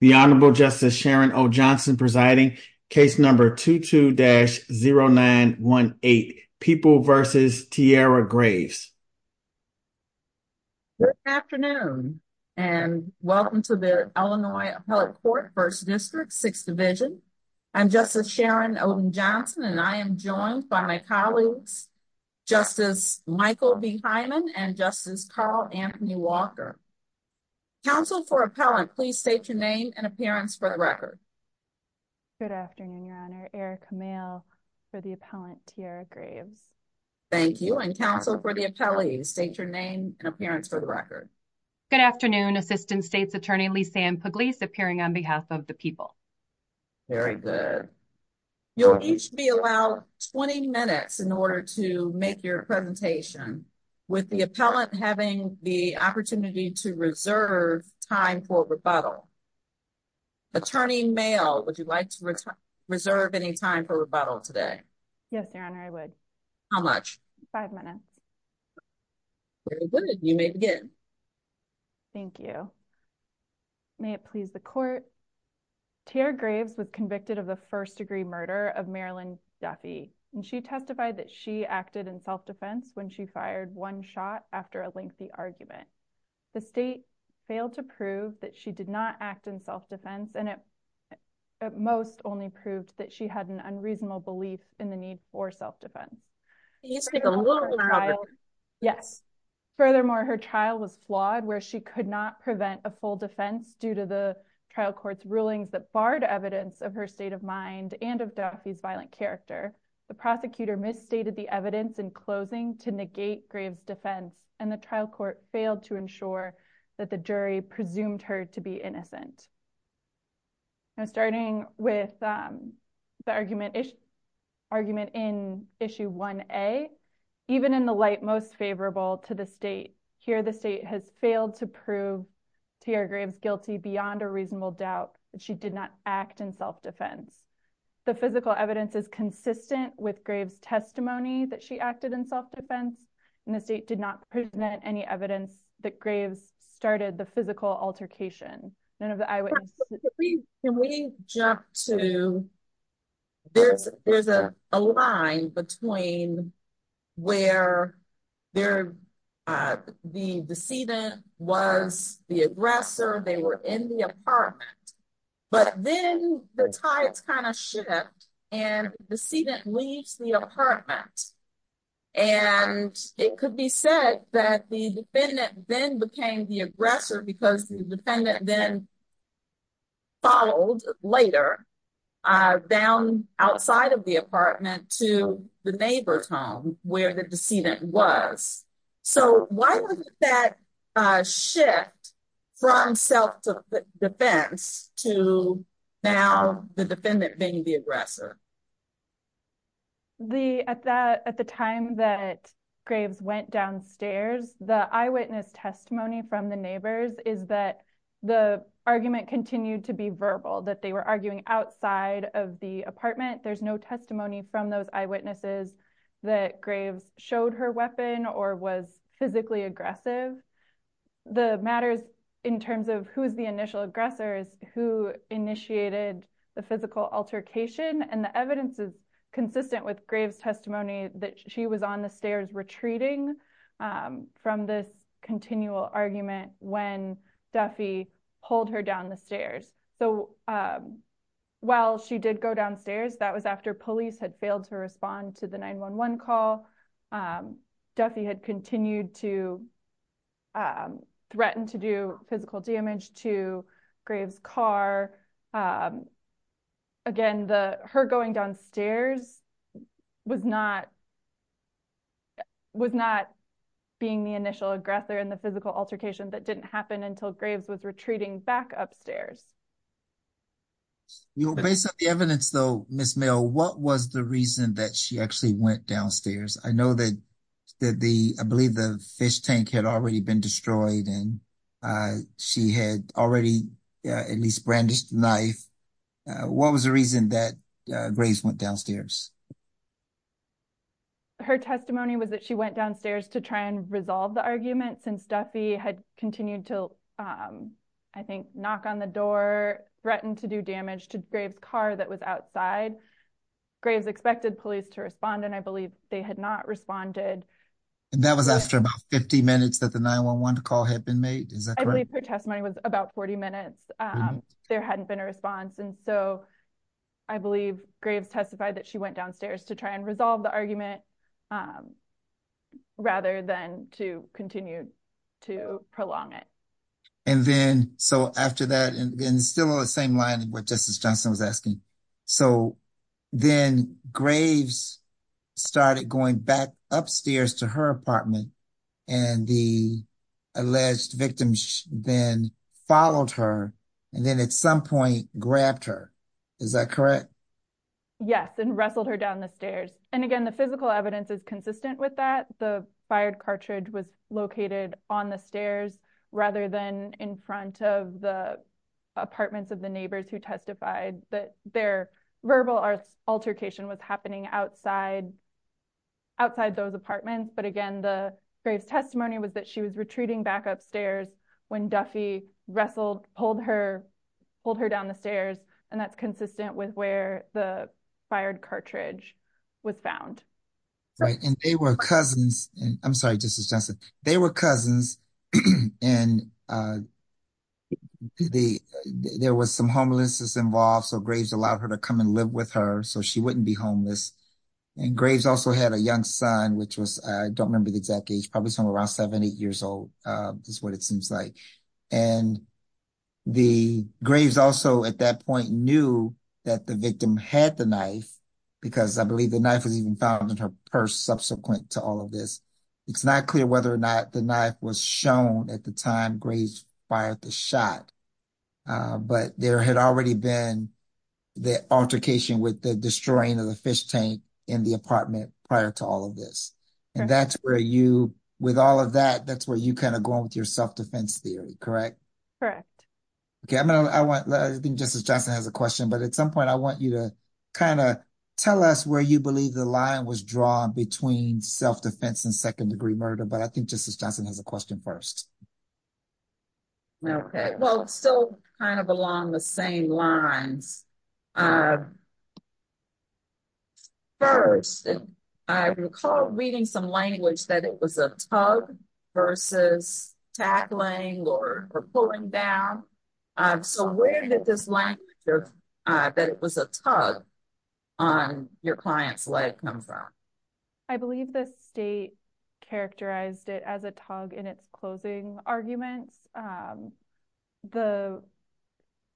The Honorable Justice Sharon O. Johnson presiding, case number 22-0918, People v. Tierra Graves. Good afternoon, and welcome to the Illinois Appellate Court, 1st District, 6th Division. I'm Justice Sharon Oden-Johnson, and I am joined by my colleagues, Justice Michael B. Hyman and Justice Carl Anthony Walker. Counsel for Appellant, please state your name and appearance for the record. Good afternoon, Your Honor. Erica Mayle for the Appellant, Tierra Graves. Thank you, and Counsel for the Appellee, state your name and appearance for the record. Good afternoon, Assistant State's Attorney Lisanne Pugliese appearing on behalf of the people. Very good. You'll each be allowed 20 minutes in order to make your presentation, with the Appellant having the opportunity to reserve time for rebuttal. Attorney Mayle, would you like to reserve any time for rebuttal today? Yes, Your Honor, I would. How much? Five minutes. Very good. You may begin. Thank you. May it please the Court. Tierra Graves was convicted of the first-degree murder of Marilyn Duffy, and she testified that she acted in self-defense when she fired one shot after a lengthy argument. The State failed to prove that she did not act in self-defense, and it at most only proved that she had an unreasonable belief in the need for self-defense. Can you speak a little louder? Yes. Furthermore, her trial was flawed, where she could not prevent a full defense due to the trial court's rulings that barred evidence of her state of mind and of Duffy's violent character. The prosecutor misstated the evidence in closing to negate Graves' defense, and the trial court failed to ensure that the jury presumed her to be innocent. Now, starting with the argument in Issue 1A, even in the light most favorable to the State, here the State has failed to prove Tierra Graves guilty beyond a reasonable doubt that she did not act in self-defense. The physical evidence is consistent with Graves' testimony that she acted in self-defense, and the State did not present any evidence that Graves started the physical altercation. Can we jump to, there's a line between where the decedent was the aggressor, they were in the apartment, but then the tides kind of shifted, and the decedent leaves the apartment. And it could be said that the defendant then became the aggressor because the defendant then followed later down outside of the apartment to the neighbor's home, where the decedent was. So why was that shift from self-defense to now the defendant being the aggressor? At the time that Graves went downstairs, the eyewitness testimony from the neighbors is that the argument continued to be verbal, that they were arguing outside of the apartment. There's no testimony from those eyewitnesses that Graves showed her weapon or was physically aggressive. The matter is in terms of who is the initial aggressor, who initiated the physical altercation, and the evidence is consistent with Graves' testimony that she was on the stairs retreating from this continual argument when Duffy pulled her down the stairs. So while she did go downstairs, that was after police had failed to respond to the 911 call, Duffy had continued to threaten to do physical damage to Graves' car. Again, her going downstairs was not being the initial aggressor in the physical altercation that didn't happen until Graves was retreating back upstairs. Based on the evidence though, Ms. Mill, what was the reason that she actually went downstairs? I know that the, I believe the fish tank had already been destroyed and she had already at least brandished a knife. What was the reason that Graves went downstairs? Her testimony was that she went downstairs to try and resolve the argument since Duffy had continued to, I think, knock on the door, threatened to do damage to Graves' car that was outside. Graves expected police to respond and I believe they had not responded. And that was after about 50 minutes that the 911 call had been made, is that correct? I believe her testimony was about 40 minutes, there hadn't been a response. And so I believe Graves testified that she went downstairs to try and resolve the argument rather than to continue to prolong it. And then, so after that, and still on the same line with what Justice Johnson was asking. So then Graves started going back upstairs to her apartment and the alleged victim then followed her and then at some point grabbed her, is that correct? Yes, and wrestled her down the stairs. And again, the physical evidence is consistent with that. The fired cartridge was located on the stairs rather than in front of the apartments of the neighbors who testified that their verbal altercation was happening outside those apartments. But again, Graves' testimony was that she was retreating back upstairs when Duffy wrestled, pulled her down the stairs. And that's consistent with where the fired cartridge was found. Right, and they were cousins. I'm sorry, Justice Johnson. They were cousins, and there was some homelessness involved. So Graves allowed her to come and live with her so she wouldn't be homeless. And Graves also had a young son, which was, I don't remember the exact age, probably somewhere around seven, eight years old is what it seems like. And the Graves also at that point knew that the victim had the knife, because I believe the knife was even found in her purse subsequent to all of this. It's not clear whether or not the knife was shown at the time Graves fired the shot. But there had already been the altercation with the destroying of the fish tank in the apartment prior to all of this. And that's where you, with all of that, that's where you kind of go with your self-defense theory, correct? Correct. Okay, I think Justice Johnson has a question. But at some point, I want you to kind of tell us where you believe the line was drawn between self-defense and second-degree murder. But I think Justice Johnson has a question first. Okay, well, it's still kind of along the same lines. First, I recall reading some language that it was a tug versus tackling or pulling down. So where did this language that it was a tug on your client's leg come from? I believe the state characterized it as a tug in its closing arguments.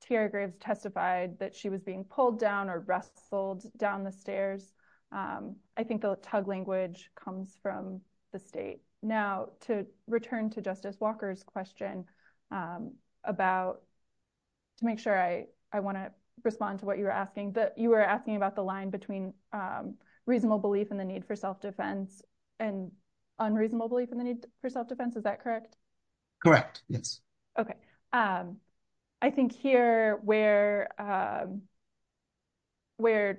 Tierra Graves testified that she was being pulled down or wrestled down the stairs. I think the tug language comes from the state. Now, to return to Justice Walker's question, to make sure I want to respond to what you were asking, you were asking about the line between reasonable belief in the need for self-defense and unreasonable belief in the need for self-defense. Is that correct? Correct, yes. Okay. I think here where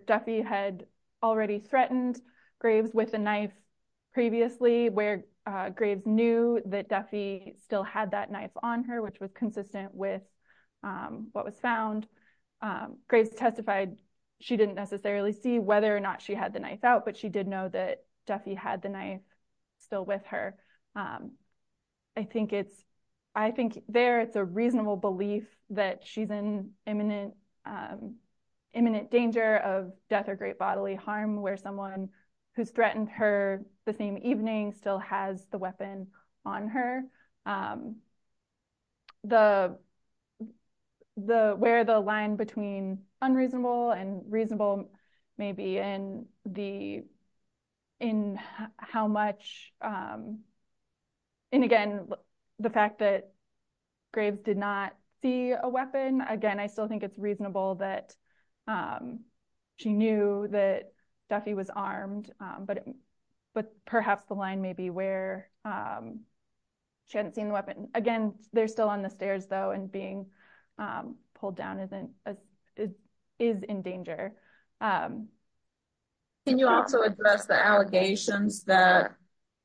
Duffy had already threatened Graves with a knife previously, where Graves knew that Duffy still had that knife on her, which was consistent with what was found, Graves testified she didn't necessarily see whether or not she had the knife out, but she did know that Duffy had the knife still with her. I think there it's a reasonable belief that she's in imminent danger of death or great bodily harm, where someone who's threatened her the same evening still has the weapon on her. Where the line between unreasonable and reasonable may be in how much, and again, the fact that Graves did not see a weapon, again, I still think it's reasonable that she knew that Duffy was armed, but perhaps the line may be where she hadn't seen the weapon. Again, they're still on the stairs, though, and being pulled down is in danger. Can you also address the allegations that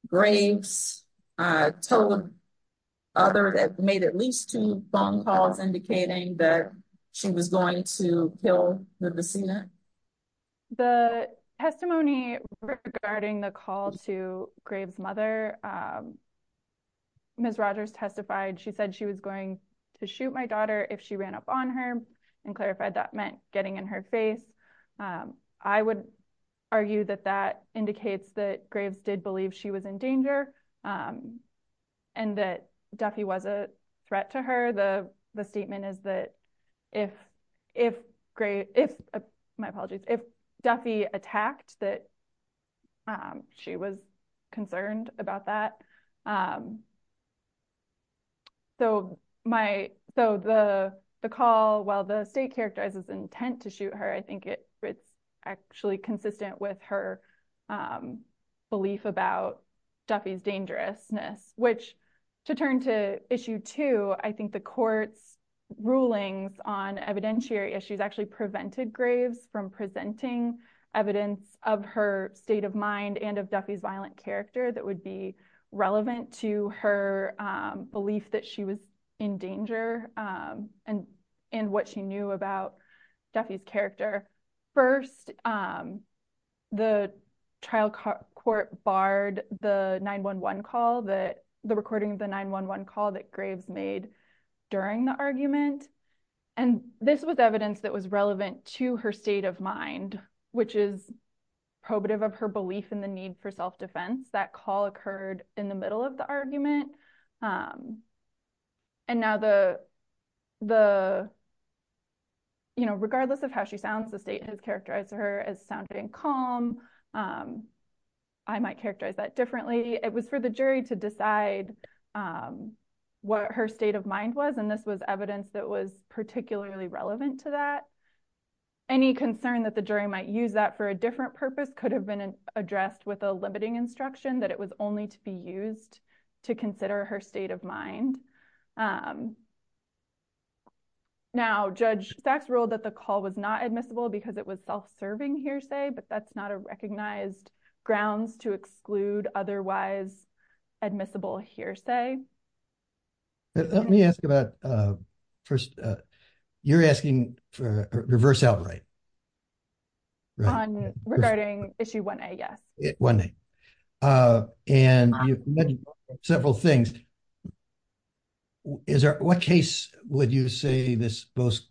Graves told others, made at least two phone calls indicating that she was going to kill the decedent? The testimony regarding the call to Graves' mother, Ms. Rogers testified she said she was going to shoot my daughter if she ran up on her, and clarified that meant getting in her face. I would argue that that indicates that Graves did believe she was in danger, and that Duffy was a threat to her. The statement is that if Duffy attacked, that she was concerned about that. The call, while the state characterizes intent to shoot her, I think it's actually consistent with her belief about Duffy's dangerousness, which to turn to issue two, I think the court's rulings on evidentiary issues actually prevented Graves from presenting evidence of her state of mind and of Duffy's violent character that would be relevant to her belief that she was in danger and what she knew about Duffy's character. First, the trial court barred the 911 call that the recording of the 911 call that Graves made during the argument, and this was evidence that was relevant to her state of mind, which is probative of her belief in the need for self-defense. That call occurred in the middle of the argument, and now regardless of how she sounds, the state has characterized her as sounding calm. I might characterize that differently. It was for the jury to decide what her state of mind was, and this was evidence that was particularly relevant to that. Any concern that the jury might use that for a different purpose could have been addressed with a limiting instruction that it was only to be used to consider her state of mind. Now, Judge Sachs ruled that the call was not admissible because it was self-serving hearsay, but that's not a recognized grounds to exclude otherwise admissible hearsay. Let me ask about first, you're asking for reverse outright. Regarding issue 1A, yes. 1A, and you mentioned several things. What case would you say this most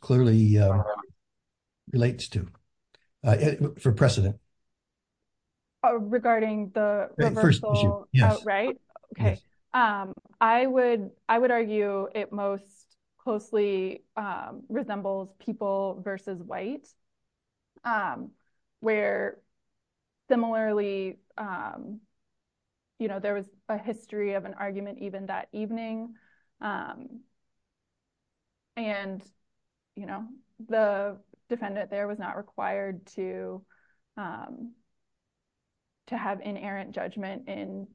clearly relates to for precedent? Regarding the reversal outright? Yes. Okay. I would argue it most closely resembles people versus white, where similarly there was a history of an argument even that evening, and the defendant there was not required to have inerrant judgment, and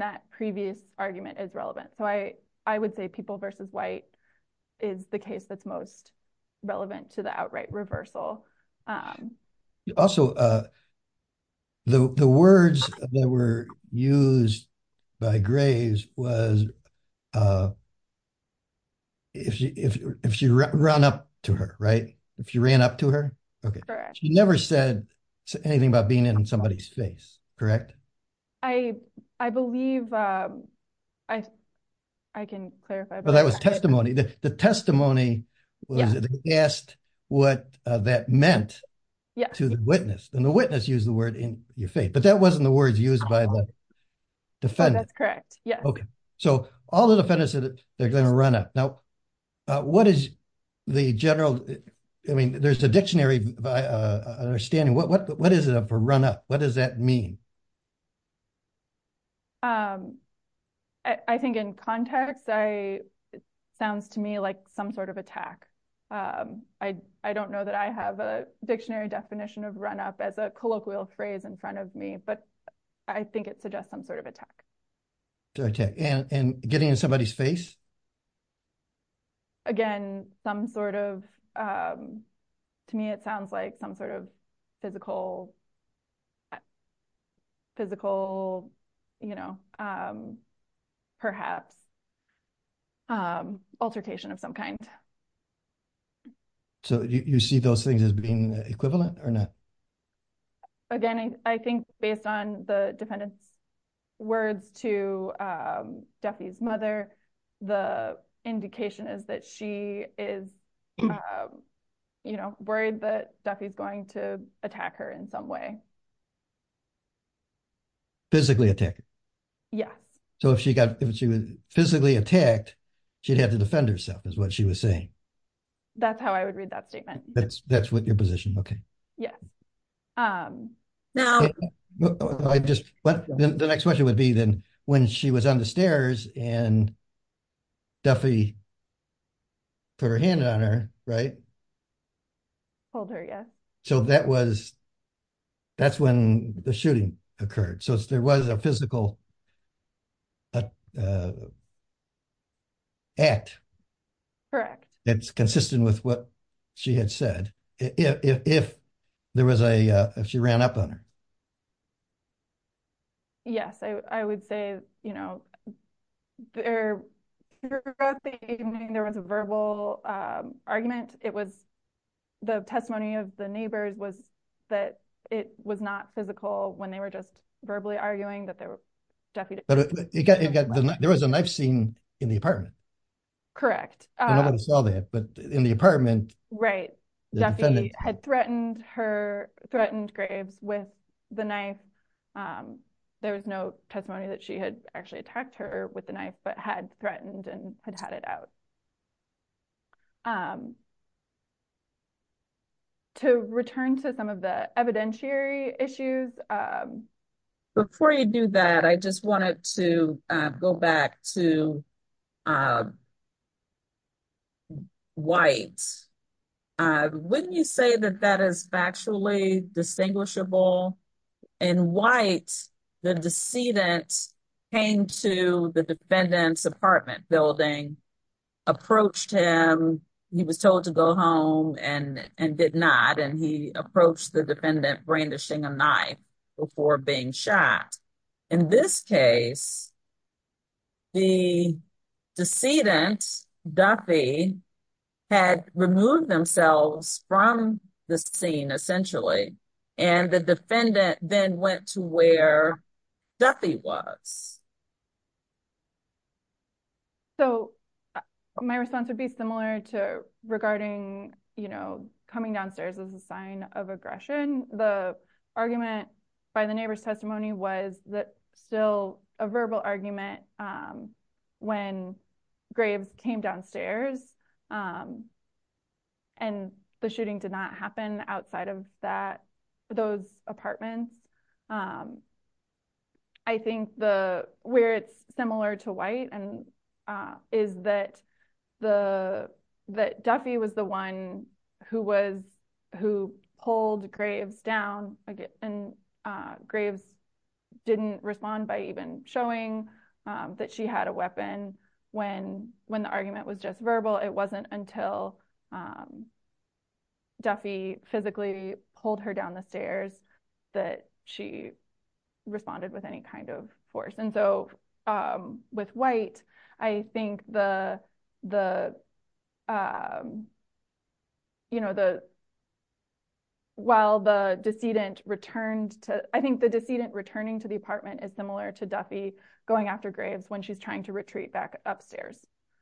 that previous argument is relevant. I would say people versus white is the case that's most relevant to the outright reversal. Also, the words that were used by Graves was if she ran up to her, right? If she ran up to her? She never said anything about being in somebody's face, correct? I believe I can clarify. That was testimony. The testimony was they asked what that meant to the witness, and the witness used the word in your face, but that wasn't the words used by the defendant. That's correct, yes. Okay. All the defendants said they're going to run up. Now, what is the general – I mean, there's a dictionary understanding. What is it for run up? What does that mean? I think in context it sounds to me like some sort of attack. I don't know that I have a dictionary definition of run up as a colloquial phrase in front of me, but I think it suggests some sort of attack. Okay, and getting in somebody's face? Again, some sort of – to me it sounds like some sort of physical perhaps altercation of some kind. So you see those things as being equivalent or not? Again, I think based on the defendant's words to Duffy's mother, the indication is that she is, you know, worried that Duffy's going to attack her in some way. Physically attack her? Yes. So if she was physically attacked, she'd have to defend herself is what she was saying? That's how I would read that statement. That's your position, okay. Yes. The next question would be then when she was on the stairs and Duffy put her hand on her, right? Hold her, yes. So that's when the shooting occurred. So there was a physical act. Correct. That's consistent with what she had said. If there was a – if she ran up on her. Yes, I would say, you know, there was a verbal argument. It was the testimony of the neighbors was that it was not physical when they were just verbally arguing that Duffy – There was a knife scene in the apartment. Correct. I don't want to sell that, but in the apartment. Right. Duffy had threatened her – threatened Graves with the knife. There was no testimony that she had actually attacked her with the knife but had threatened and had had it out. To return to some of the evidentiary issues. Before you do that, I just wanted to go back to White. Wouldn't you say that that is factually distinguishable? In White, the decedent came to the defendant's apartment building, approached him, he was told to go home and did not, and he approached the defendant brandishing a knife before being shot. In this case, the decedent, Duffy, had removed themselves from the scene, essentially, and the defendant then went to where Duffy was. My response would be similar to regarding coming downstairs as a sign of aggression. The argument by the neighbor's testimony was that still a verbal argument when Graves came downstairs and the shooting did not happen outside of those apartments. I think where it's similar to White is that Duffy was the one who pulled Graves down and Graves didn't respond by even showing that she had a weapon when the argument was just verbal. It wasn't until Duffy physically pulled her down the stairs that she responded with any kind of force. With White, I think the decedent returning to the apartment is similar to Duffy going after Graves when she's trying to retreat back upstairs.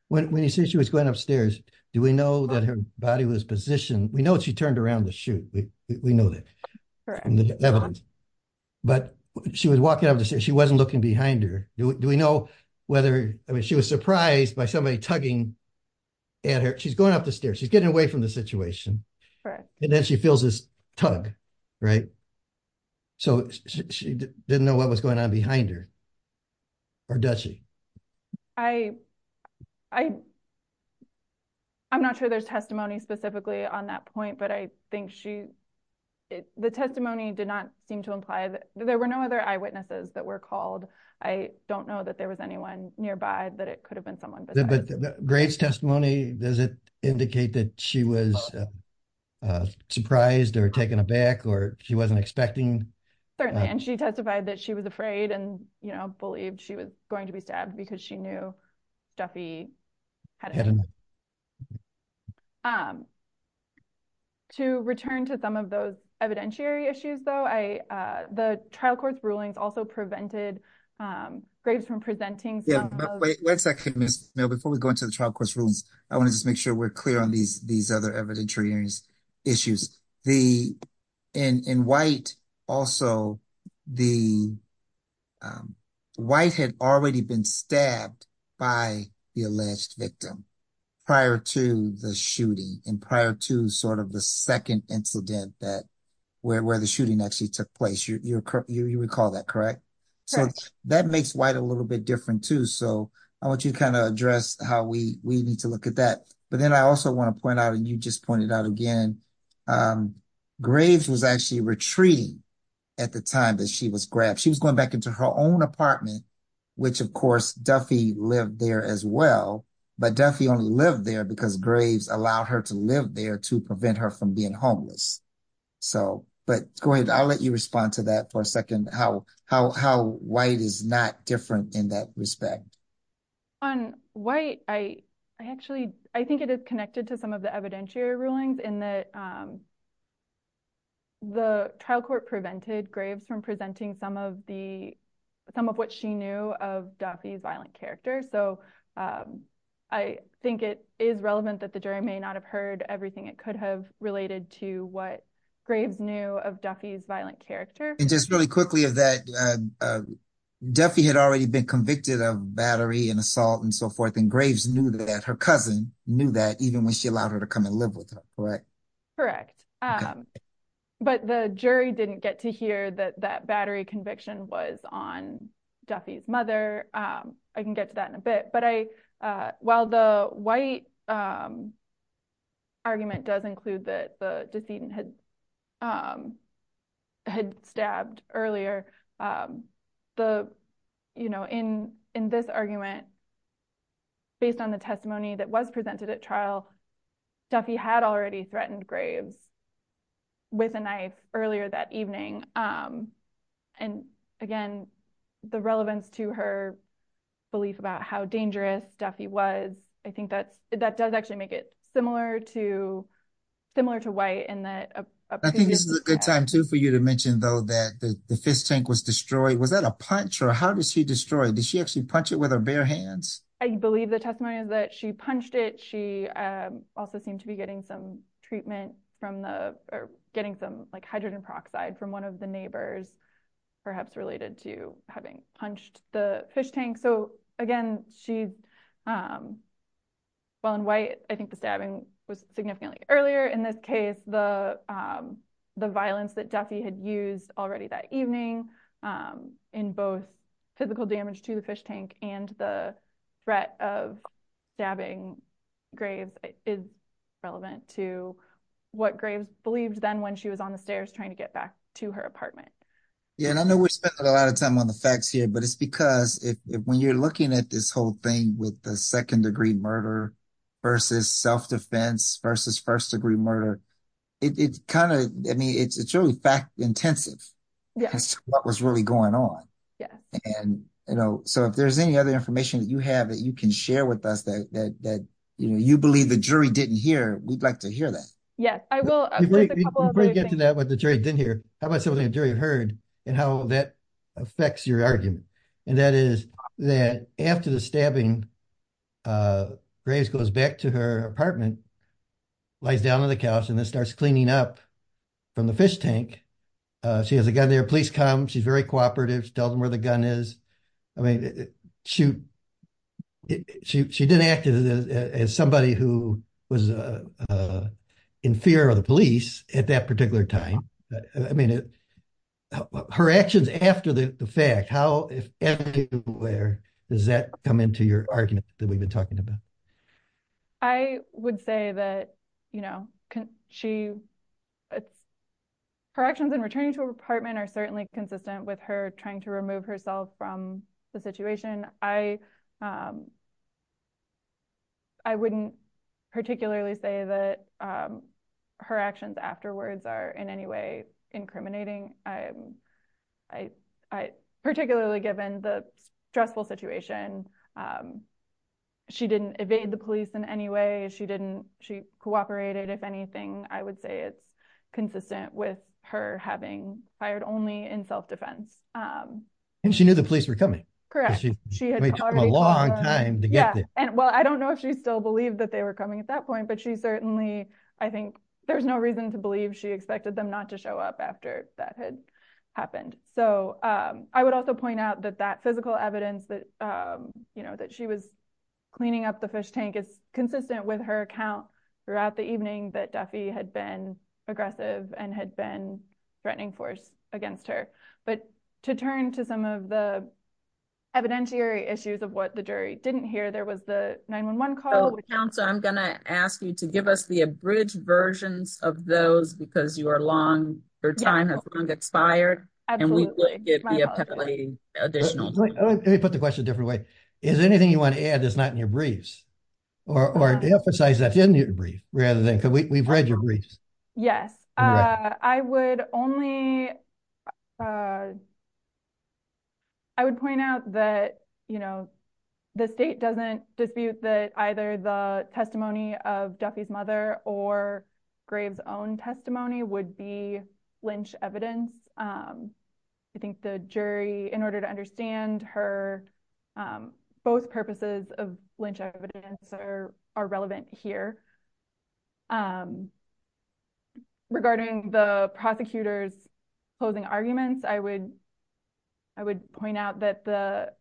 When you say she was going upstairs, do we know that her body was positioned? We know she turned around to shoot. We know that from the evidence. But she was walking up the stairs. She wasn't looking behind her. Do we know whether she was surprised by somebody tugging at her? She's going up the stairs. She's getting away from the situation. And then she feels this tug, right? So she didn't know what was going on behind her. Or does she? I'm not sure there's testimony specifically on that point. But I think the testimony did not seem to imply that there were no other eyewitnesses that were called. I don't know that there was anyone nearby that it could have been someone besides her. But Graves' testimony, does it indicate that she was surprised or taken aback or she wasn't expecting? Certainly. And she testified that she was afraid and, you know, she didn't believe she was going to be stabbed because she knew Duffy had a gun. To return to some of those evidentiary issues, though, the trial court's rulings also prevented Graves from presenting some of those. Wait a second, Ms. Mill. Before we go into the trial court's rulings, I want to just make sure we're clear on these other evidentiary issues. In White also, White had already been stabbed by the alleged victim prior to the shooting and prior to sort of the second incident where the shooting actually took place. You recall that, correct? So that makes White a little bit different too. So I want you to kind of address how we need to look at that. But then I also want to point out, and you just pointed out again, Graves was actually retreating at the time that she was grabbed. She was going back into her own apartment, which of course, Duffy lived there as well, but Duffy only lived there because Graves allowed her to live there to prevent her from being homeless. So, but go ahead. I'll let you respond to that for a second. How White is not different in that respect. On White, I actually, I think it is connected to some of the evidentiary rulings in that the trial court prevented Graves from presenting some of the, some of what she knew of Duffy's violent character. So I think it is relevant that the jury may not have heard everything it could have related to what Graves knew of Duffy's violent character. And just really quickly of that, Duffy had already been convicted of battery and assault and so forth. And Graves knew that, her cousin knew that even when she allowed her to come and live with her. Correct? Correct. But the jury didn't get to hear that that battery conviction was on Duffy's mother. I can get to that in a bit, but I, while the White argument does include that the decedent had, had stabbed earlier, the, you know, in, in this argument based on the testimony that was presented at trial, Duffy had already threatened Graves with a knife earlier that evening. And again, the relevance to her belief about how dangerous Duffy was, I think that's, that does actually make it similar to, similar to White in that. I think this is a good time too, for you to mention though, that the fist tank was destroyed. Was that a punch or how does she destroy it? Did she actually punch it with her bare hands? I believe the testimony is that she punched it. She also seemed to be getting some treatment from the, or getting some like hydrogen peroxide from one of the neighbors, perhaps related to having punched the fish tank. So again, she's, while in White, I think the stabbing was significantly earlier in this case, the, the violence that Duffy had used already that evening, in both physical damage to the fish tank and the threat of stabbing Graves is relevant to what Graves believed then when she was on the stairs trying to get back to her apartment. Yeah. And I know we're spending a lot of time on the facts here, but it's because if, when you're looking at this whole thing with the second degree murder versus self-defense versus first degree murder, it, it kind of, I mean, it's, it's really fact intensive as to what was really going on. Yeah. And, you know, so if there's any other information that you have that you can share with us that, that, that, you know, you believe the jury didn't hear, we'd like to hear that. Yeah, I will. Before we get to that, what the jury didn't hear, how about something the jury heard and how that affects your argument. And that is that after the stabbing, Graves goes back to her apartment, lies down on the couch and then starts cleaning up from the fish tank. She has a gun there, police come, she's very cooperative. She tells them where the gun is. I mean, she didn't act as somebody who was in fear of the police at that particular time. I mean, her actions after the fact, how, does that come into your argument that we've been talking about? I would say that, you know, she, her actions in returning to her apartment are certainly consistent with her trying to remove herself from the situation. I, I wouldn't particularly say that her actions afterwards are in any way incriminating. I, I, I, particularly given the stressful situation, she didn't evade the police in any way. She didn't, she cooperated. If anything, I would say it's consistent with her having fired only in self-defense. And she knew the police were coming. Correct. She had been waiting a long time to get there. And well, I don't know if she still believed that they were coming at that point, but she certainly, I think there's no reason to believe she expected them not to show up after that had happened. So I would also point out that that physical evidence that, you know, that she was cleaning up the fish tank is consistent with her account throughout the evening that Duffy had been aggressive and had been threatening force against her, but to turn to some of the evidentiary issues of what the jury didn't hear, there was the 911 call. So I'm going to ask you to give us the abridged versions of those because you are long, your time has long expired. And we think it'd be a peculating additional. Let me put the question a different way. Is anything you want to add that's not in your briefs or emphasize that in your brief rather than, cause we've read your briefs. Yes. I would only, I would point out that, you know, the state doesn't dispute that either the testimony of Duffy's mother or Duffy's father would be Lynch evidence. I think the jury, in order to understand her, both purposes of Lynch evidence are, are relevant here. Regarding the prosecutor's closing arguments, I would, I would point out that the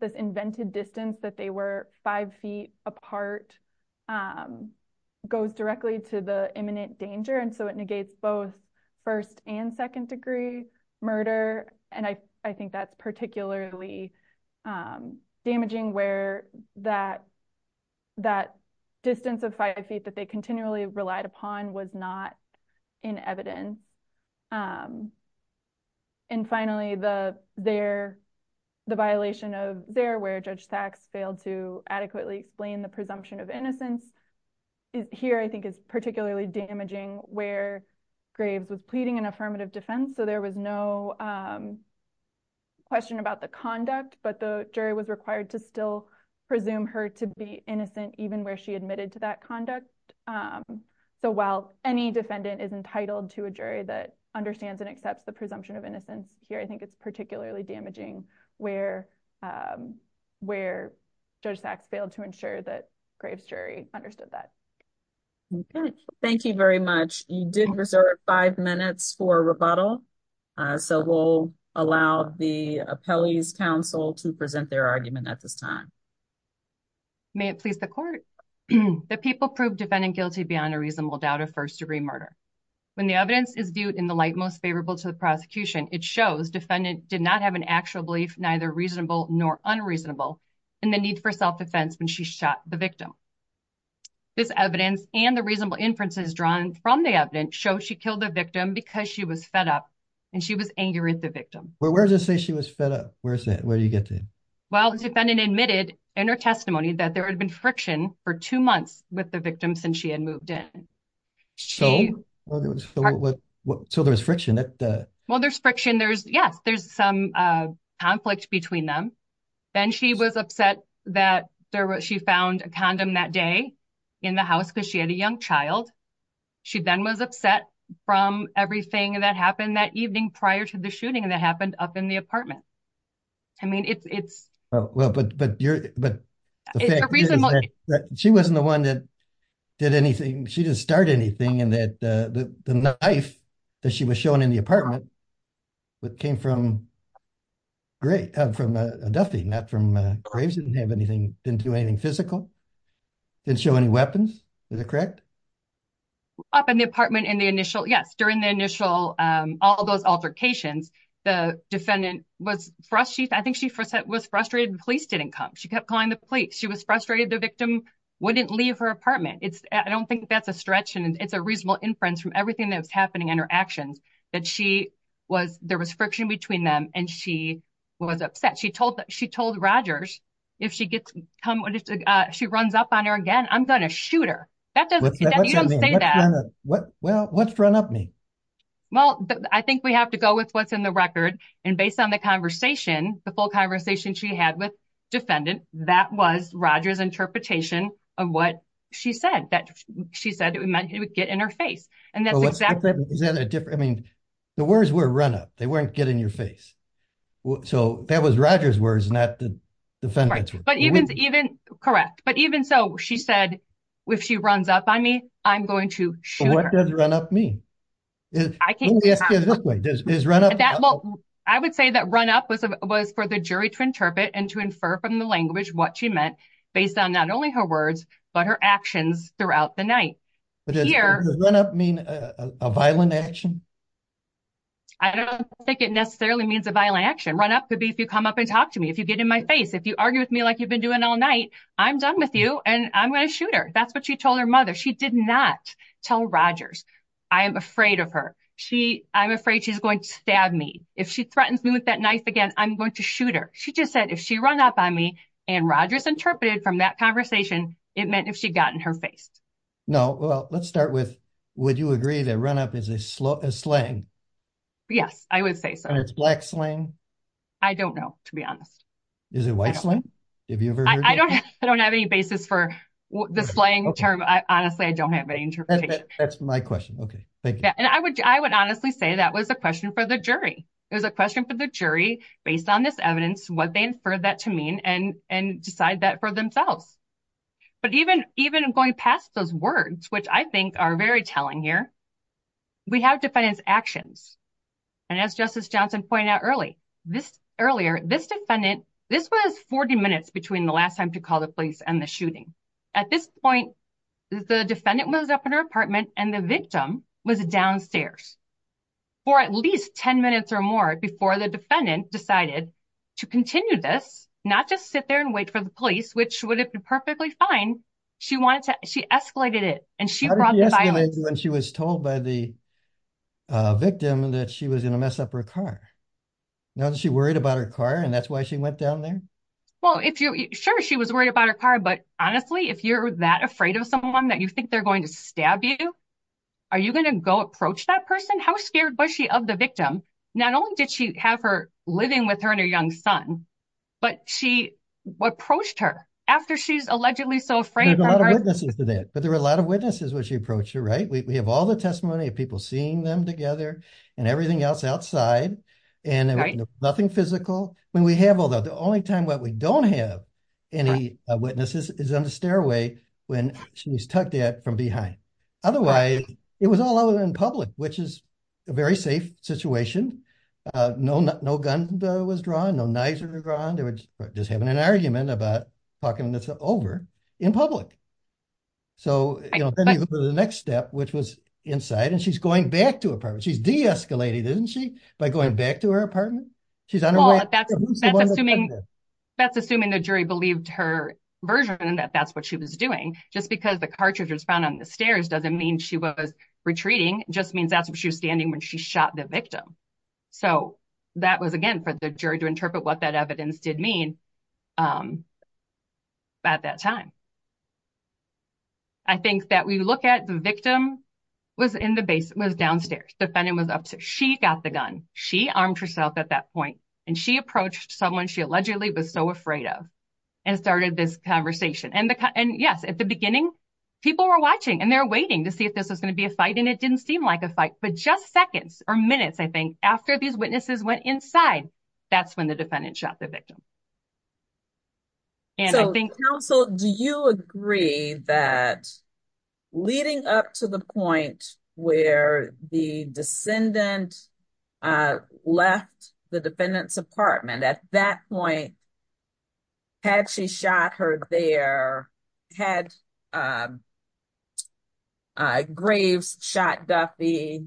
this invented distance that they were five feet apart goes directly to the imminent danger. And so it negates both first and second degree murder. And I, I think that's particularly damaging where that, that distance of five feet that they continually relied upon was not in evidence. And finally, the, their, the violation of their, where judge Sachs failed to adequately explain the presumption of innocence here, I think is particularly damaging where graves was pleading an affirmative defense. So there was no question about the conduct, but the jury was required to still presume her to be innocent, even where she admitted to that conduct. So while any defendant is entitled to a jury that understands and accepts the presumption of innocence here, I think it's particularly damaging where, where judge Sachs failed to ensure that graves jury understood that. Okay. Thank you very much. You did reserve five minutes for rebuttal. So we'll allow the appellees council to present their argument at this time. May it please the court that people prove defendant guilty beyond a reasonable doubt of first degree murder. When the evidence is viewed in the light most favorable to the prosecution, it shows defendant did not have an actual belief, neither reasonable nor unreasonable and the need for self-defense when she shot the victim. This evidence and the reasonable inferences drawn from the evidence show she killed the victim because she was fed up and she was angry at the victim. Well, where does it say she was fed up? Where's that? Where do you get to? Well, defendant admitted in her testimony that there had been friction for two months with the victim since she had moved in. So there was friction. Well, there's friction. There's yes. There's some conflict between them. Then she was upset that there was, she found a condom that day in the house because she had a young child. She then was upset from everything that happened that evening prior to the shooting that happened up in the apartment. I mean, it's, it's, well, but, but you're, but she wasn't the one that did anything. She didn't start anything and that the knife that she was shown in the apartment, but came from great from a Duffy, not from a graves, didn't have anything, didn't do anything physical, didn't show any weapons. Is it correct? Up in the apartment in the initial, yes. During the initial, all those altercations, the defendant was frustrated. I think she was frustrated. The police didn't come. She kept calling the police. She was frustrated the victim wouldn't leave her apartment. It's I don't think that's a stretch and it's a reasonable inference from everything that was happening in her actions that she was, there was friction between them. And she was upset. She told, she told Rogers if she gets come on, if she runs up on her again, I'm going to shoot her. That doesn't say that. Well, let's run up me. Well, I think we have to go with what's in the record. And based on the conversation, the full conversation she had with defendant, that was Roger's interpretation of what she said that she said it would get in her face. And that's exactly. I mean, the words were run up. They weren't getting your face. So that was Roger's words, not the defendants. Correct. But even so she said, if she runs up on me, I'm going to shoot her. What does run up mean? I would say that run up was for the jury to interpret and to infer from the language, what she meant based on not only her words, but her actions throughout the night. Does run up mean a violent action? I don't think it necessarily means a violent action. Run up could be if you come up and talk to me, if you get in my face, if you argue with me, like you've been doing all night, I'm done with you and I'm going to shoot her. That's what she told her mother. She did not tell Rogers. I am afraid of her. She, I'm afraid she's going to stab me. If she threatens me with that knife again, I'm going to shoot her. She just said if she run up on me and Rogers interpreted from that conversation, it meant if she got in her face. No. Well, let's start with, would you agree that run up is a slang? Yes, I would say so. And it's black slang? I don't know, to be honest. Is it white slang? I don't have any basis for the slang term. Honestly, I don't have any interpretation. That's my question. Okay. Thank you. And I would, I would honestly say that was a question for the jury. It was a question for the jury based on this evidence, what they inferred that to mean and, and decide that for themselves. But even, even going past those words, which I think are very telling here, we have defendants actions. And as justice Johnson pointed out early, this earlier, this defendant, this was 40 minutes between the last time to call the police and the shooting. At this point, the defendant was up in her apartment and the victim was downstairs for at least 10 minutes or more before the defendant decided to continue this, not just sit there and wait for the police, which would have been perfectly fine. She wanted to, she escalated it and she was told by the victim that she was going to mess up her car. Now that she worried about her car and that's why she went down there. Well, if you're sure she was worried about her car, but honestly if you're that afraid of someone that you think they're going to stab you, are you going to go approach that person? And how scared was she of the victim? Not only did she have her living with her and her young son, but she approached her after she's allegedly so afraid. There's a lot of witnesses to that, but there were a lot of witnesses when she approached her, right? We have all the testimony of people seeing them together and everything else outside and nothing physical. When we have all that, the only time that we don't have any witnesses is on the stairway when she's up there from behind. Otherwise it was all over in public, which is a very safe situation. No, no, no gun was drawn. No knives were drawn. They were just having an argument about talking this over in public. So the next step, which was inside and she's going back to her apartment. She's deescalated, isn't she? By going back to her apartment. She's on her way. That's assuming the jury believed her version that that's what she was doing just because the cartridge was found on the stairs. Doesn't mean she was retreating. Just means that's what she was standing when she shot the victim. So that was again for the jury to interpret what that evidence did mean. At that time, I think that we look at the victim was in the base, was downstairs. Defendant was upset. She got the gun. She armed herself at that point and she approached someone she allegedly was so afraid of and started this conversation. And the, and yes, at the beginning people were watching and they're waiting to see if this was going to be a fight and it didn't seem like a fight, but just seconds or minutes. I think after these witnesses went inside, that's when the defendant shot the victim. And I think. So do you agree that leading up to the point where the descendant left the defendant's apartment at that point, had she shot her there, had Graves shot Duffy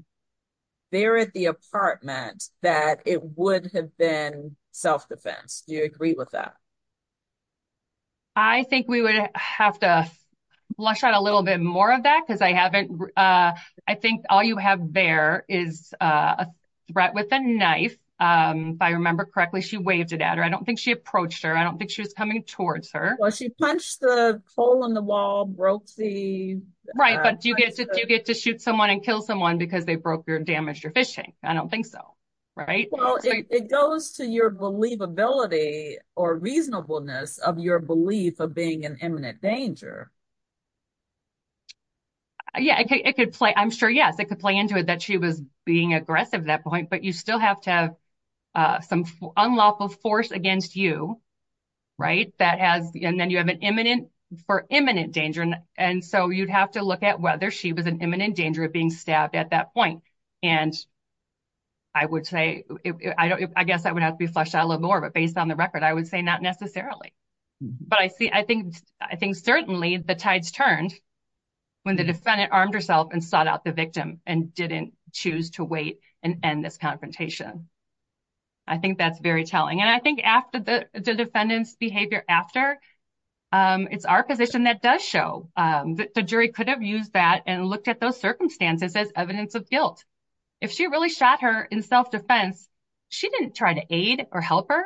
there at the apartment, that it would have been self-defense. Do you agree with that? I think we would have to flush out a little bit more of that because I haven't, I think all you have there is a threat with a knife. If I remember correctly, she waved it at her. I don't think she approached her. I don't think she was coming towards her. Well, she punched the pole in the wall, broke the. Right. But do you get to, do you get to shoot someone and kill someone because they broke your damaged your fishing? I don't think so. Right. Well, it goes to your believability or reasonableness of your belief of being an imminent danger. Yeah, it could play. I'm sure. Yes. It could play into it that she was being aggressive at that point, but you still have to have some unlawful force against you. Right. That has, and then you have an imminent for imminent danger. And so you'd have to look at whether she was an imminent danger of being stabbed at that point. And I would say, I don't, I guess I would have to be flushed out a little more, but based on the record, I would say not necessarily, but I see, I think, I think certainly the tides turned when the defendant armed herself and sought out the victim and didn't choose to wait and end this confrontation. I think that's very telling. And I think after the defendant's behavior after it's our position that does show that the jury could have used that and looked at those circumstances as evidence of guilt. If she really shot her in self-defense, she didn't try to aid or help her.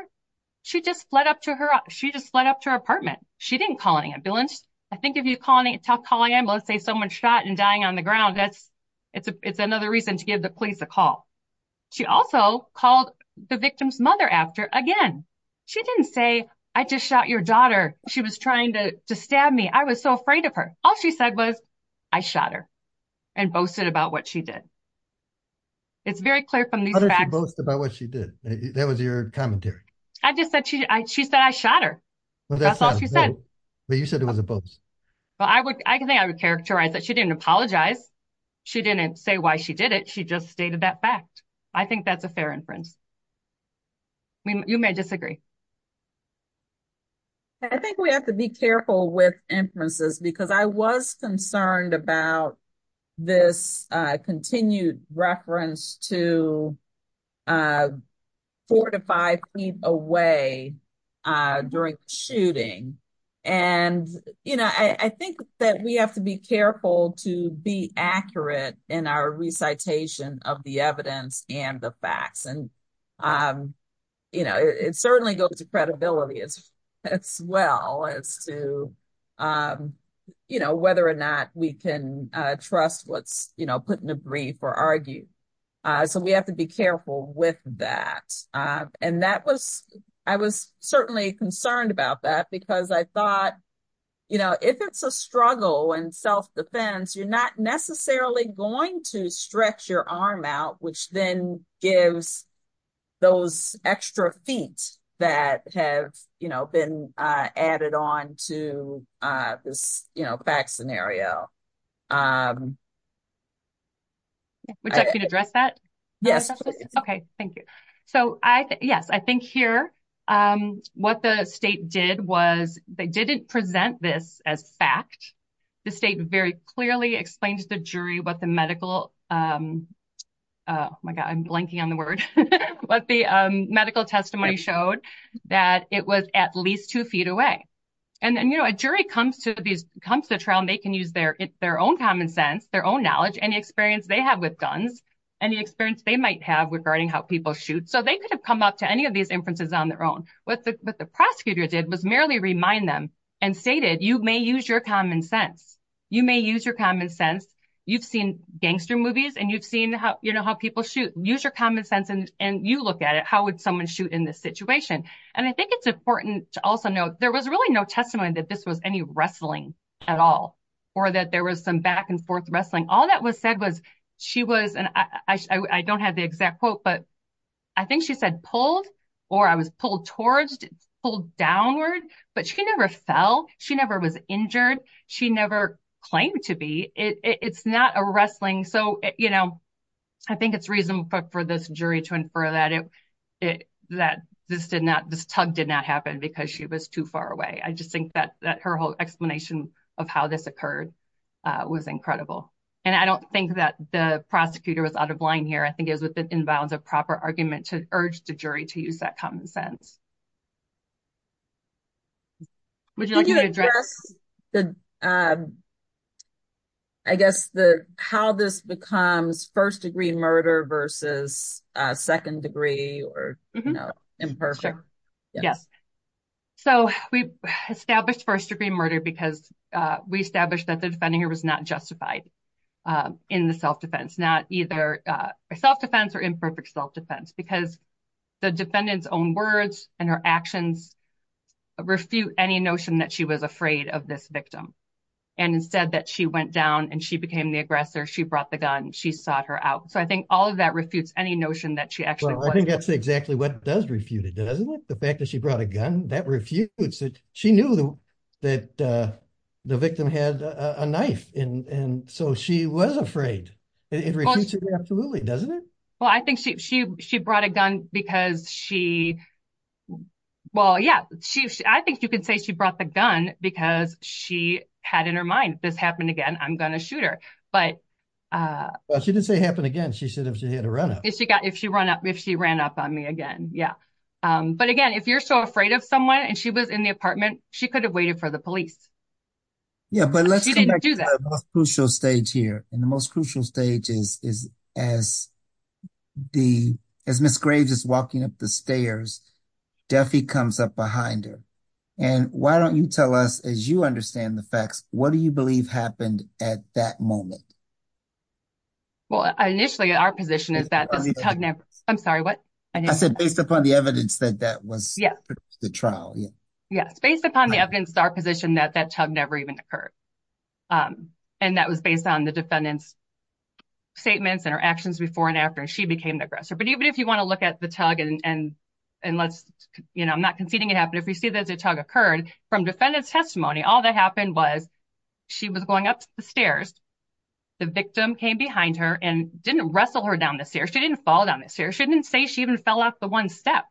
She just fled up to her. She just fled up to her apartment. She didn't call an ambulance. I think if you call an ambulance, let's say someone shot and dying on the ground, that's, it's a, it's another reason to give the police a call. She also called the victim's mother after again, she didn't say, I just shot your daughter. She was trying to stab me. I was so afraid of her. All she said was I shot her and boasted about what she did. It's very clear from these facts about what she did. That was your commentary. I just said, she, I, she said I shot her. That's all she said. But you said it was a bonus. Well, I would, I can think I would characterize that. She didn't apologize. She didn't say why she did it. She just stated that fact. I think that's a fair inference. I mean, you may disagree. I think we have to be careful with inferences because I was concerned about this continued reference to four to five feet away during the shooting. And, you know, I think that we have to be careful to be accurate in our recitation of the evidence and the facts. And, you know, it certainly goes to credibility as well as to, you know, whether or not we can trust what's, you know, put in a brief or argue. So we have to be careful with that. And that was, I was certainly concerned about that because I thought, you know, if it's a struggle and self-defense, you're not necessarily going to stretch your arm out, which then gives those extra feet that have, you know, been added on to this, you know, fact scenario. Would you like me to address that? Yes. Okay. Thank you. So I, yes, I think here what the state did was they didn't present this as fact. The state very clearly explained to the jury what the medical, oh my God, I'm blanking on the word, but the medical testimony showed that it was at least two feet away. And then, you know, a jury comes to these, comes to trial, and they can use their own common sense, their own knowledge, any experience they have with guns, any experience they might have regarding how people shoot. So they could have come up to any of these inferences on their own. What the prosecutor did was merely remind them and stated, you may use your common sense. You may use your common sense. You've seen gangster movies and you've seen how, you know, how people shoot. Use your common sense and you look at it. How would someone shoot in this situation? And I think it's important to also note there was really no testimony that this was any wrestling at all, or that there was some back and forth wrestling. All that was said was she was, and I don't have the exact quote, but I think she said pulled or I was pulled towards, pulled downward, but she never fell. She never was injured. She never claimed to be. It's not a wrestling. So, you know, I think it's reasonable for this jury to infer that it, that this did not, this tug did not happen because she was too far away. I just think that her whole explanation of how this occurred was incredible. And I don't think that the prosecutor was out of line here. I think it was within bounds of proper argument to urge the jury to use that common sense. I guess the, how this becomes first degree murder versus a second degree or, you know, imperfect. Yes. So we established first degree murder because we established that the defendant's own words and her actions refute any notion that she was afraid of this victim. And instead that she went down and she became the aggressor, she brought the gun, she sought her out. So I think all of that refutes any notion that she actually was. I think that's exactly what does refute it. Doesn't it? The fact that she brought a gun that refutes it. She knew that the victim had a knife in. And so she was afraid. Absolutely. Doesn't it? Well, I think she, she, she brought a gun because she. Well, yeah, she, I think you can say she brought the gun because she had in her mind this happened again. I'm going to shoot her, but. Well, she didn't say it happened again. She said, if she had a runoff. If she got, if she ran up, if she ran up on me again. Yeah. But again, if you're so afraid of someone and she was in the apartment, she could have waited for the police. Yeah. But let's do that crucial stage here. And the most crucial stage is, is as the, as Ms. Graves is walking up the stairs, Duffy comes up behind her. And why don't you tell us, as you understand the facts, what do you believe happened at that moment? Well, initially our position is that I'm sorry, what. I said, based upon the evidence that that was the trial. Yeah. Yes. Based upon the evidence, our position that that tug never even occurred. And that was based on the defendant's statements and her actions before and after she became the aggressor. But even if you want to look at the tug and, and, and let's, you know, I'm not conceding it happened. If we see that the tug occurred from defendant's testimony, all that happened was she was going up the stairs. The victim came behind her and didn't wrestle her down the stairs. She didn't fall down the stairs. She didn't say she even fell off the one step.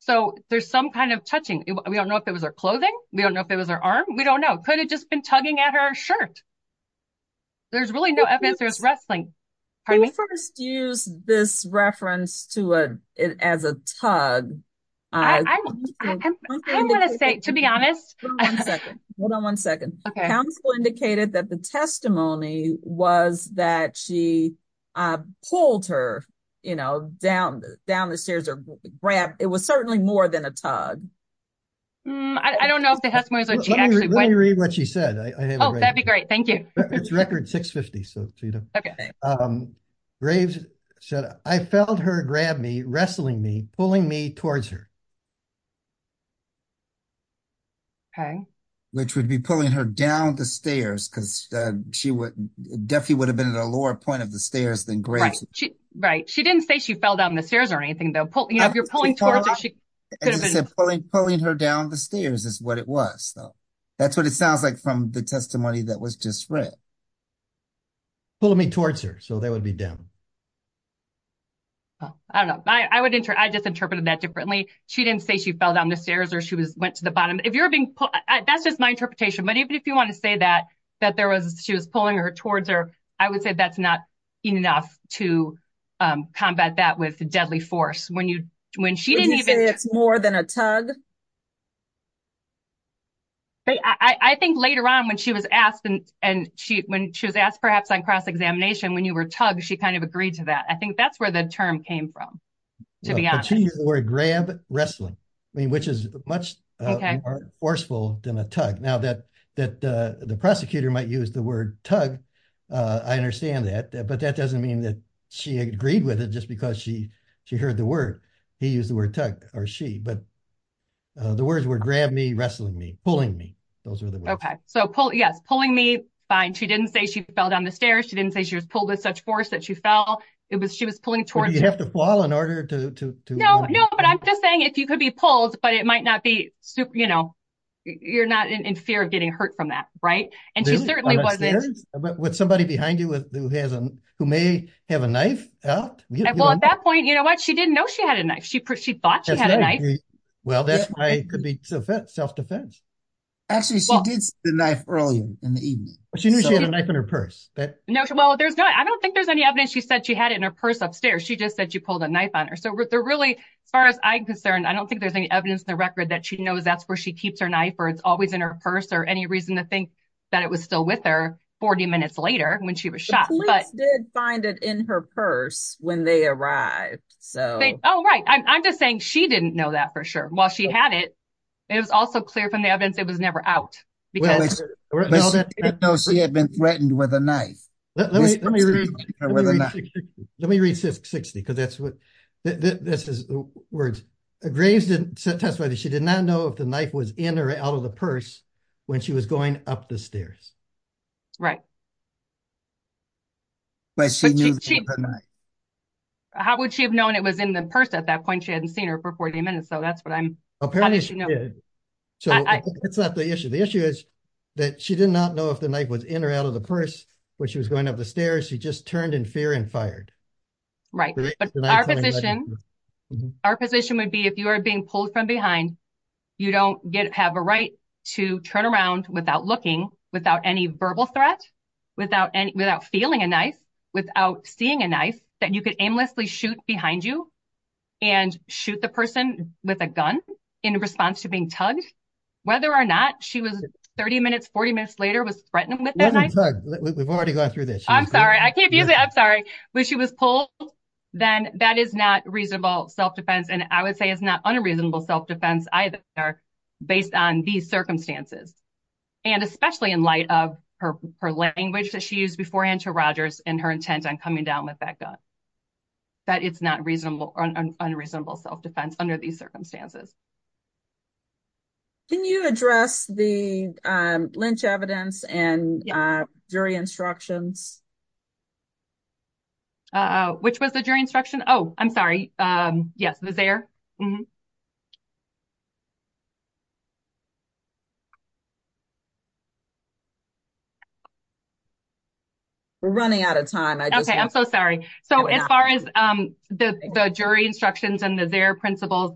So there's some kind of touching. We don't know if it was her clothing. We don't know if it was her arm. We don't know. Could have just been tugging at her shirt. There's really no evidence there was wrestling. First use this reference to it as a tug. I'm going to say, to be honest, hold on one second. Counsel indicated that the testimony was that she pulled her, you know, down, down the stairs or grab. It was certainly more than a tug. I don't know if the testimony is that she actually. Let me read what she said. Oh, that'd be great. Thank you. It's record six 50. So, you know, graves said I felt her grab me, wrestling me, pulling me towards her. Which would be pulling her down the stairs. Cause she would definitely would have been at a lower point of the stairs than grace. Right. She didn't say she fell down the stairs or anything though. If you're pulling, you know, if you're pulling towards. Pulling her down the stairs is what it was though. That's what it sounds like from the testimony that was just read. Pulling me towards her. So that would be down. I don't know. I would enter. I just interpreted that differently. She didn't say she fell down the stairs or she was went to the bottom. If you're being, that's just my interpretation. But even if you want to say that, that there was, she was pulling her towards her. I would say that's not enough to combat that with deadly force. Right. So you, when she didn't even say it's more than a tug. I think later on when she was asked and she, when she was asked perhaps on cross examination, when you were tug, she kind of agreed to that. I think that's where the term came from. To be honest. Grab wrestling. I mean, which is much more forceful than a tug. Now that, that the, the prosecutor might use the word tug. I understand that, but that doesn't mean that she agreed with it just because she, she heard the word he used the word tug or she, but the words were grabbed me, wrestling me, pulling me. Those are the words. Okay. So pull. Yes. Pulling me fine. She didn't say she fell down the stairs. She didn't say she was pulled with such force that she fell. It was, she was pulling towards. You have to fall in order to, to, to. No, no. But I'm just saying if you could be pulled, but it might not be, you know, you're not in fear of getting hurt from that. Right. And she certainly wasn't. She did not have a knife. She did not have a knife. She didn't know she had a knife. She thought she had a knife. Well, that's why it could be. So that self-defense. Actually, she did. The knife early in the evening. She knew she had a knife in her purse. No. Well, there's not. I don't think there's any evidence. She said she had it in her purse. Upstairs. She just said she pulled a knife on her. So. They're really as far as I'm concerned. I don't think there's any evidence in the record that she knows that's where she keeps her knife, or it's always in her purse or any reason to think. That it was still with her. I don't think it was. I think she did find it. 40 minutes later when she was shot. Find it in her purse when they arrived. So. Oh, right. I'm just saying she didn't know that for sure. While she had it. It was also clear from the evidence. It was never out. Because. She had been threatened with a knife. Let me read. Okay. Let me read this. 60. Because that's what. This is. Words. She did not know if the knife was in or out of the purse. When she was going up the stairs. Right. How would she have known it was in the purse at that point? She hadn't seen her for 40 minutes. So that's what I'm. So. It's not the issue. The issue is. She didn't know if the knife was in or out of the purse. When she was going up the stairs, she just turned in fear and fired. Right. Our position would be if you are being pulled from behind. You don't get to have a right to turn around without looking. Without any verbal threat. Without any, without feeling a knife. Without seeing a knife that you could aimlessly shoot behind you. And shoot the person with a gun. In response to being tugged. So. Whether or not she was 30 minutes, 40 minutes later was threatened. We've already gone through this. I'm sorry. I can't use it. I'm sorry. But she was pulled. Then that is not reasonable self-defense. And I would say it's not unreasonable self-defense either. Based on these circumstances. And especially in light of her, her language that she used beforehand to Rogers and her intent on killing her. So I would say it's not reasonable self-defense. Under these circumstances. Can you address the. Lynch evidence and jury instructions. Which was the jury instruction. Oh, I'm sorry. Yes. We're running out of time. Okay. I'm so sorry. So as far as the jury instructions and the, their principles.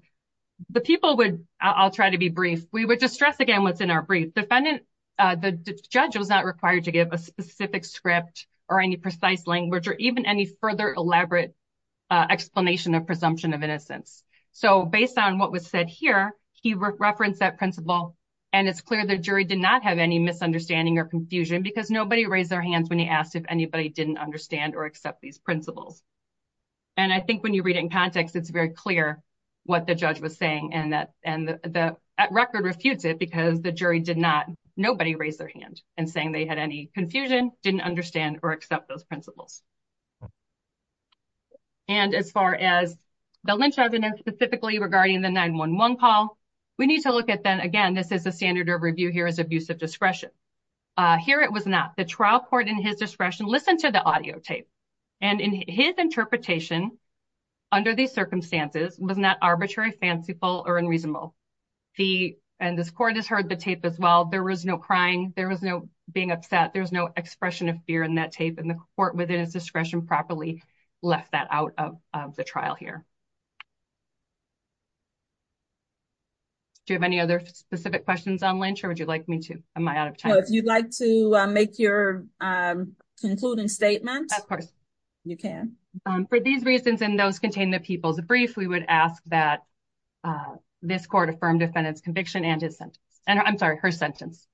The people would, I'll try to be brief. We would just stress again. What's in our brief defendant. The judge was not required to give a specific script or any precise language, or even any further elaborate. Explanation of presumption of innocence. So based on what was said here, he referenced that principle. And it's clear the jury did not have any misunderstanding or confusion because nobody raised their hands when he asked if anybody didn't understand or accept these principles. And I think when you read it in context, it's very clear. What the judge was saying and that, and the, the record refutes it, because the jury did not, nobody raised their hand and saying they had any confusion didn't understand or accept those principles. And as far as the lynch evidence, specifically regarding the nine one one Paul, we need to look at them. Again, this is a standard of review here as abusive discretion. Here. It was not the trial court in his discretion. Listen to the audio tape. And in his interpretation. Under these circumstances was not arbitrary, fanciful or unreasonable. The, and this court has heard the tape as well. There was no crying. There was no being upset. There was no expression of fear in that tape and the court within its discretion properly left that out of the trial here. Do you have any other specific questions on lynch or would you like me to, am I out of time? If you'd like to make your concluding statement. Of course you can. For these reasons. And those contain the people's brief. We would ask that this court affirmed defendants conviction and his sentence, and I'm sorry, her sentence.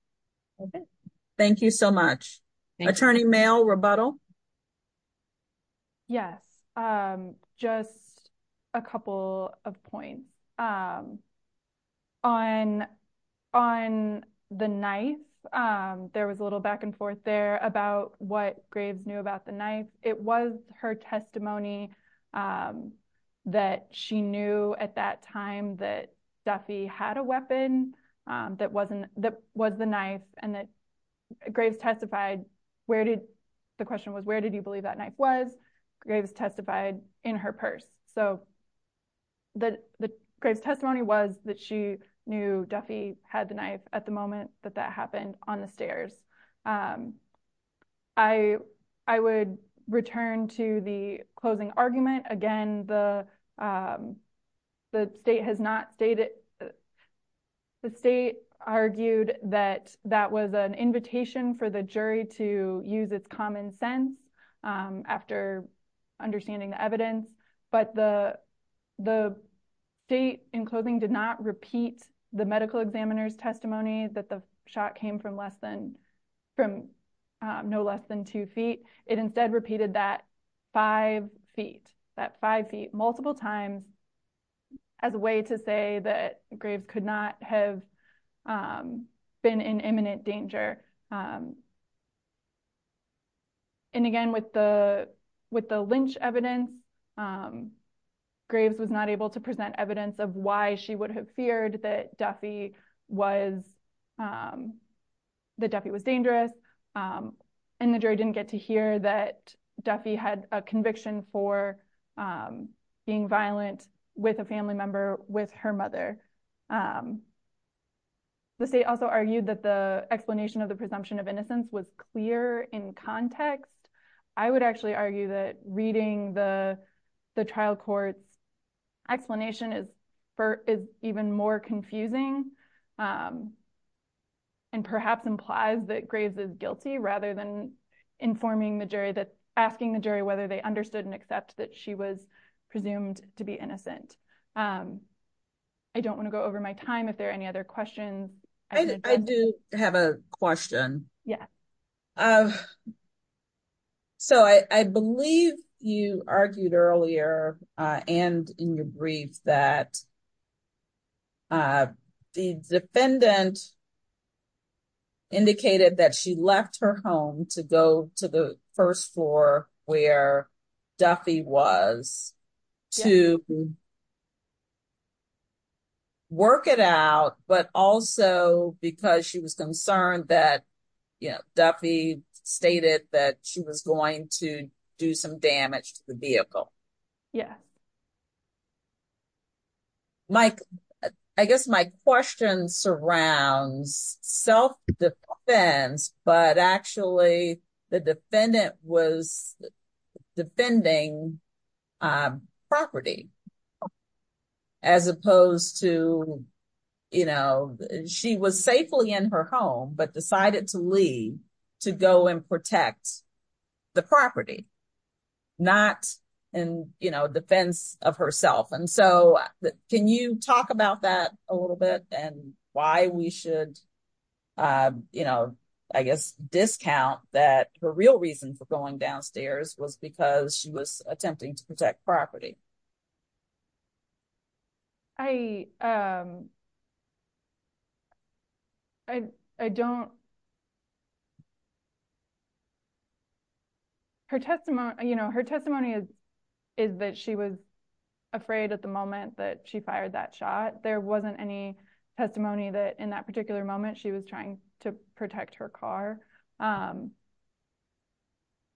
Okay. Thank you so much. Attorney mail rebuttal. Yes. Just a couple of points. On on the knife. There was a little back and forth there about what graves knew about the knife. It was her testimony. That she knew at that time that Duffy had a weapon. That wasn't that was the knife and that graves testified. Where did the question was, where did you believe that knife was? Graves testified in her purse. So the, the grave's testimony was that she knew Duffy had the knife at the moment that that happened on the stairs. I, I would return to the closing argument again. The the state has not stated. The state argued that that was an invitation for the jury to use its common sense after understanding the evidence, but the, the state in clothing did not repeat the medical examiner's testimony that the shot came from less than from no less than two feet. It instead repeated that five feet, that five feet multiple times as a way to say that graves could not have been in imminent danger. And again, with the, with the Lynch evidence, graves was not able to present evidence of why she would have feared that Duffy was the Duffy was dangerous. And the jury didn't get to hear that Duffy had a conviction for being violent with a family member, with her mother. The state also argued that the explanation of the presumption of innocence was clear in context. I would actually argue that reading the, the trial courts explanation is for is even more confusing. And perhaps implies that graves is guilty rather than informing the jury that asking the jury, I don't want to go over my time. If there are any other questions, I do have a question. Yeah. So I believe you argued earlier and in your brief that the defendant indicated that she left her home to go to the first floor where Duffy was to work it out. But also because she was concerned that, you know, Duffy stated that she was going to do some damage to the vehicle. Yeah. Mike, I guess my question surrounds self defense, but actually the defendant was defending property as opposed to, you know, she was safely in her home, but decided to leave to go and protect the property, not in, you know, defense of herself. And so can you talk about that a little bit and why we should, you know, I guess discount that her real reason for going downstairs was because she was attempting to protect property. I, um, I, I don't, her testimony, you know, her testimony is is that she was afraid at the moment that she fired that shot. There wasn't any testimony that in that particular moment, she was trying to protect her car. Um,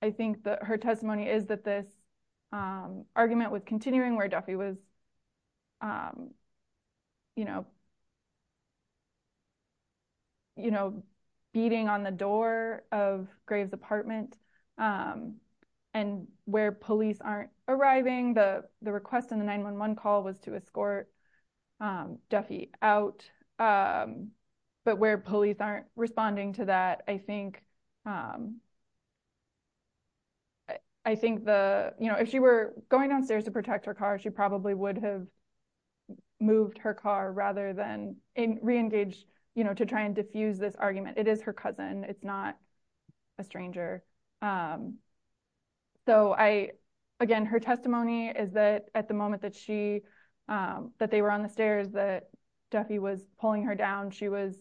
I think that her testimony is that this, um, argument with continuing where Duffy was, um, you know, you know, beating on the door of Graves apartment, um, and where police aren't arriving. The, the request in the 911 call was to escort, um, Duffy out, um, but where police aren't responding to that. I think, um, I think the, you know, if she were going downstairs to protect her car, she probably would have moved her car rather than re-engage, you know, to try and defuse this argument. It is her cousin. It's not a stranger. Um, so I, again, her testimony is that at the moment that she, um, that they were on the stairs that Duffy was pulling her down, she was,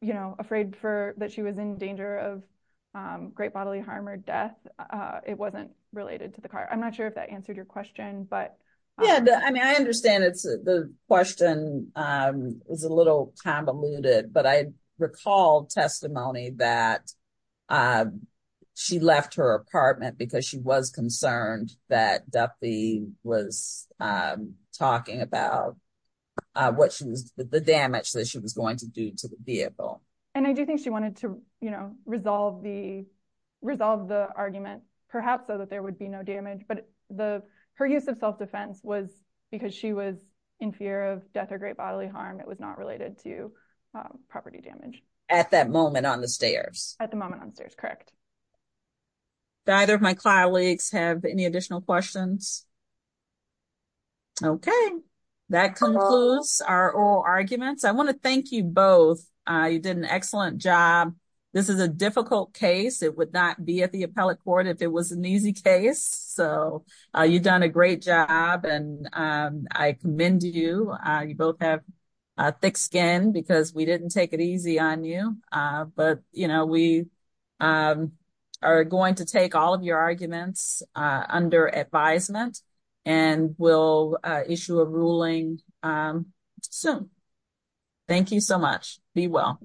you know, afraid for that. She was in danger of, um, great bodily harm or death. Uh, it wasn't related to the car. I'm not sure if that answered your question, but. Yeah. I mean, I understand it's the question, um, is a little convoluted, but I recall testimony that, uh, she left her apartment because she was concerned that Duffy was, um, talking about, uh, what she was, the damage that she was going to do to the vehicle. And I do think she wanted to, you know, resolve the, resolve the argument perhaps so that there would be no damage, but the, her use of self-defense was because she was in fear of death or great bodily harm. It was not related to, um, property damage. At that moment on the stairs. At the moment on the stairs. Correct. Do either of my colleagues have any additional questions? Okay. That concludes our oral arguments. I want to thank you both. Uh, you did an excellent job. This is a difficult case. It would not be at the appellate court if it was an easy case. So, uh, you've done a great job and, um, I commend you. Uh, you both have a thick skin because we didn't take it easy on you. Uh, but, you know, we, um, are going to take all of your arguments, uh, under advisement. And we'll, uh, issue a ruling, um, soon. Thank you so much. Be well.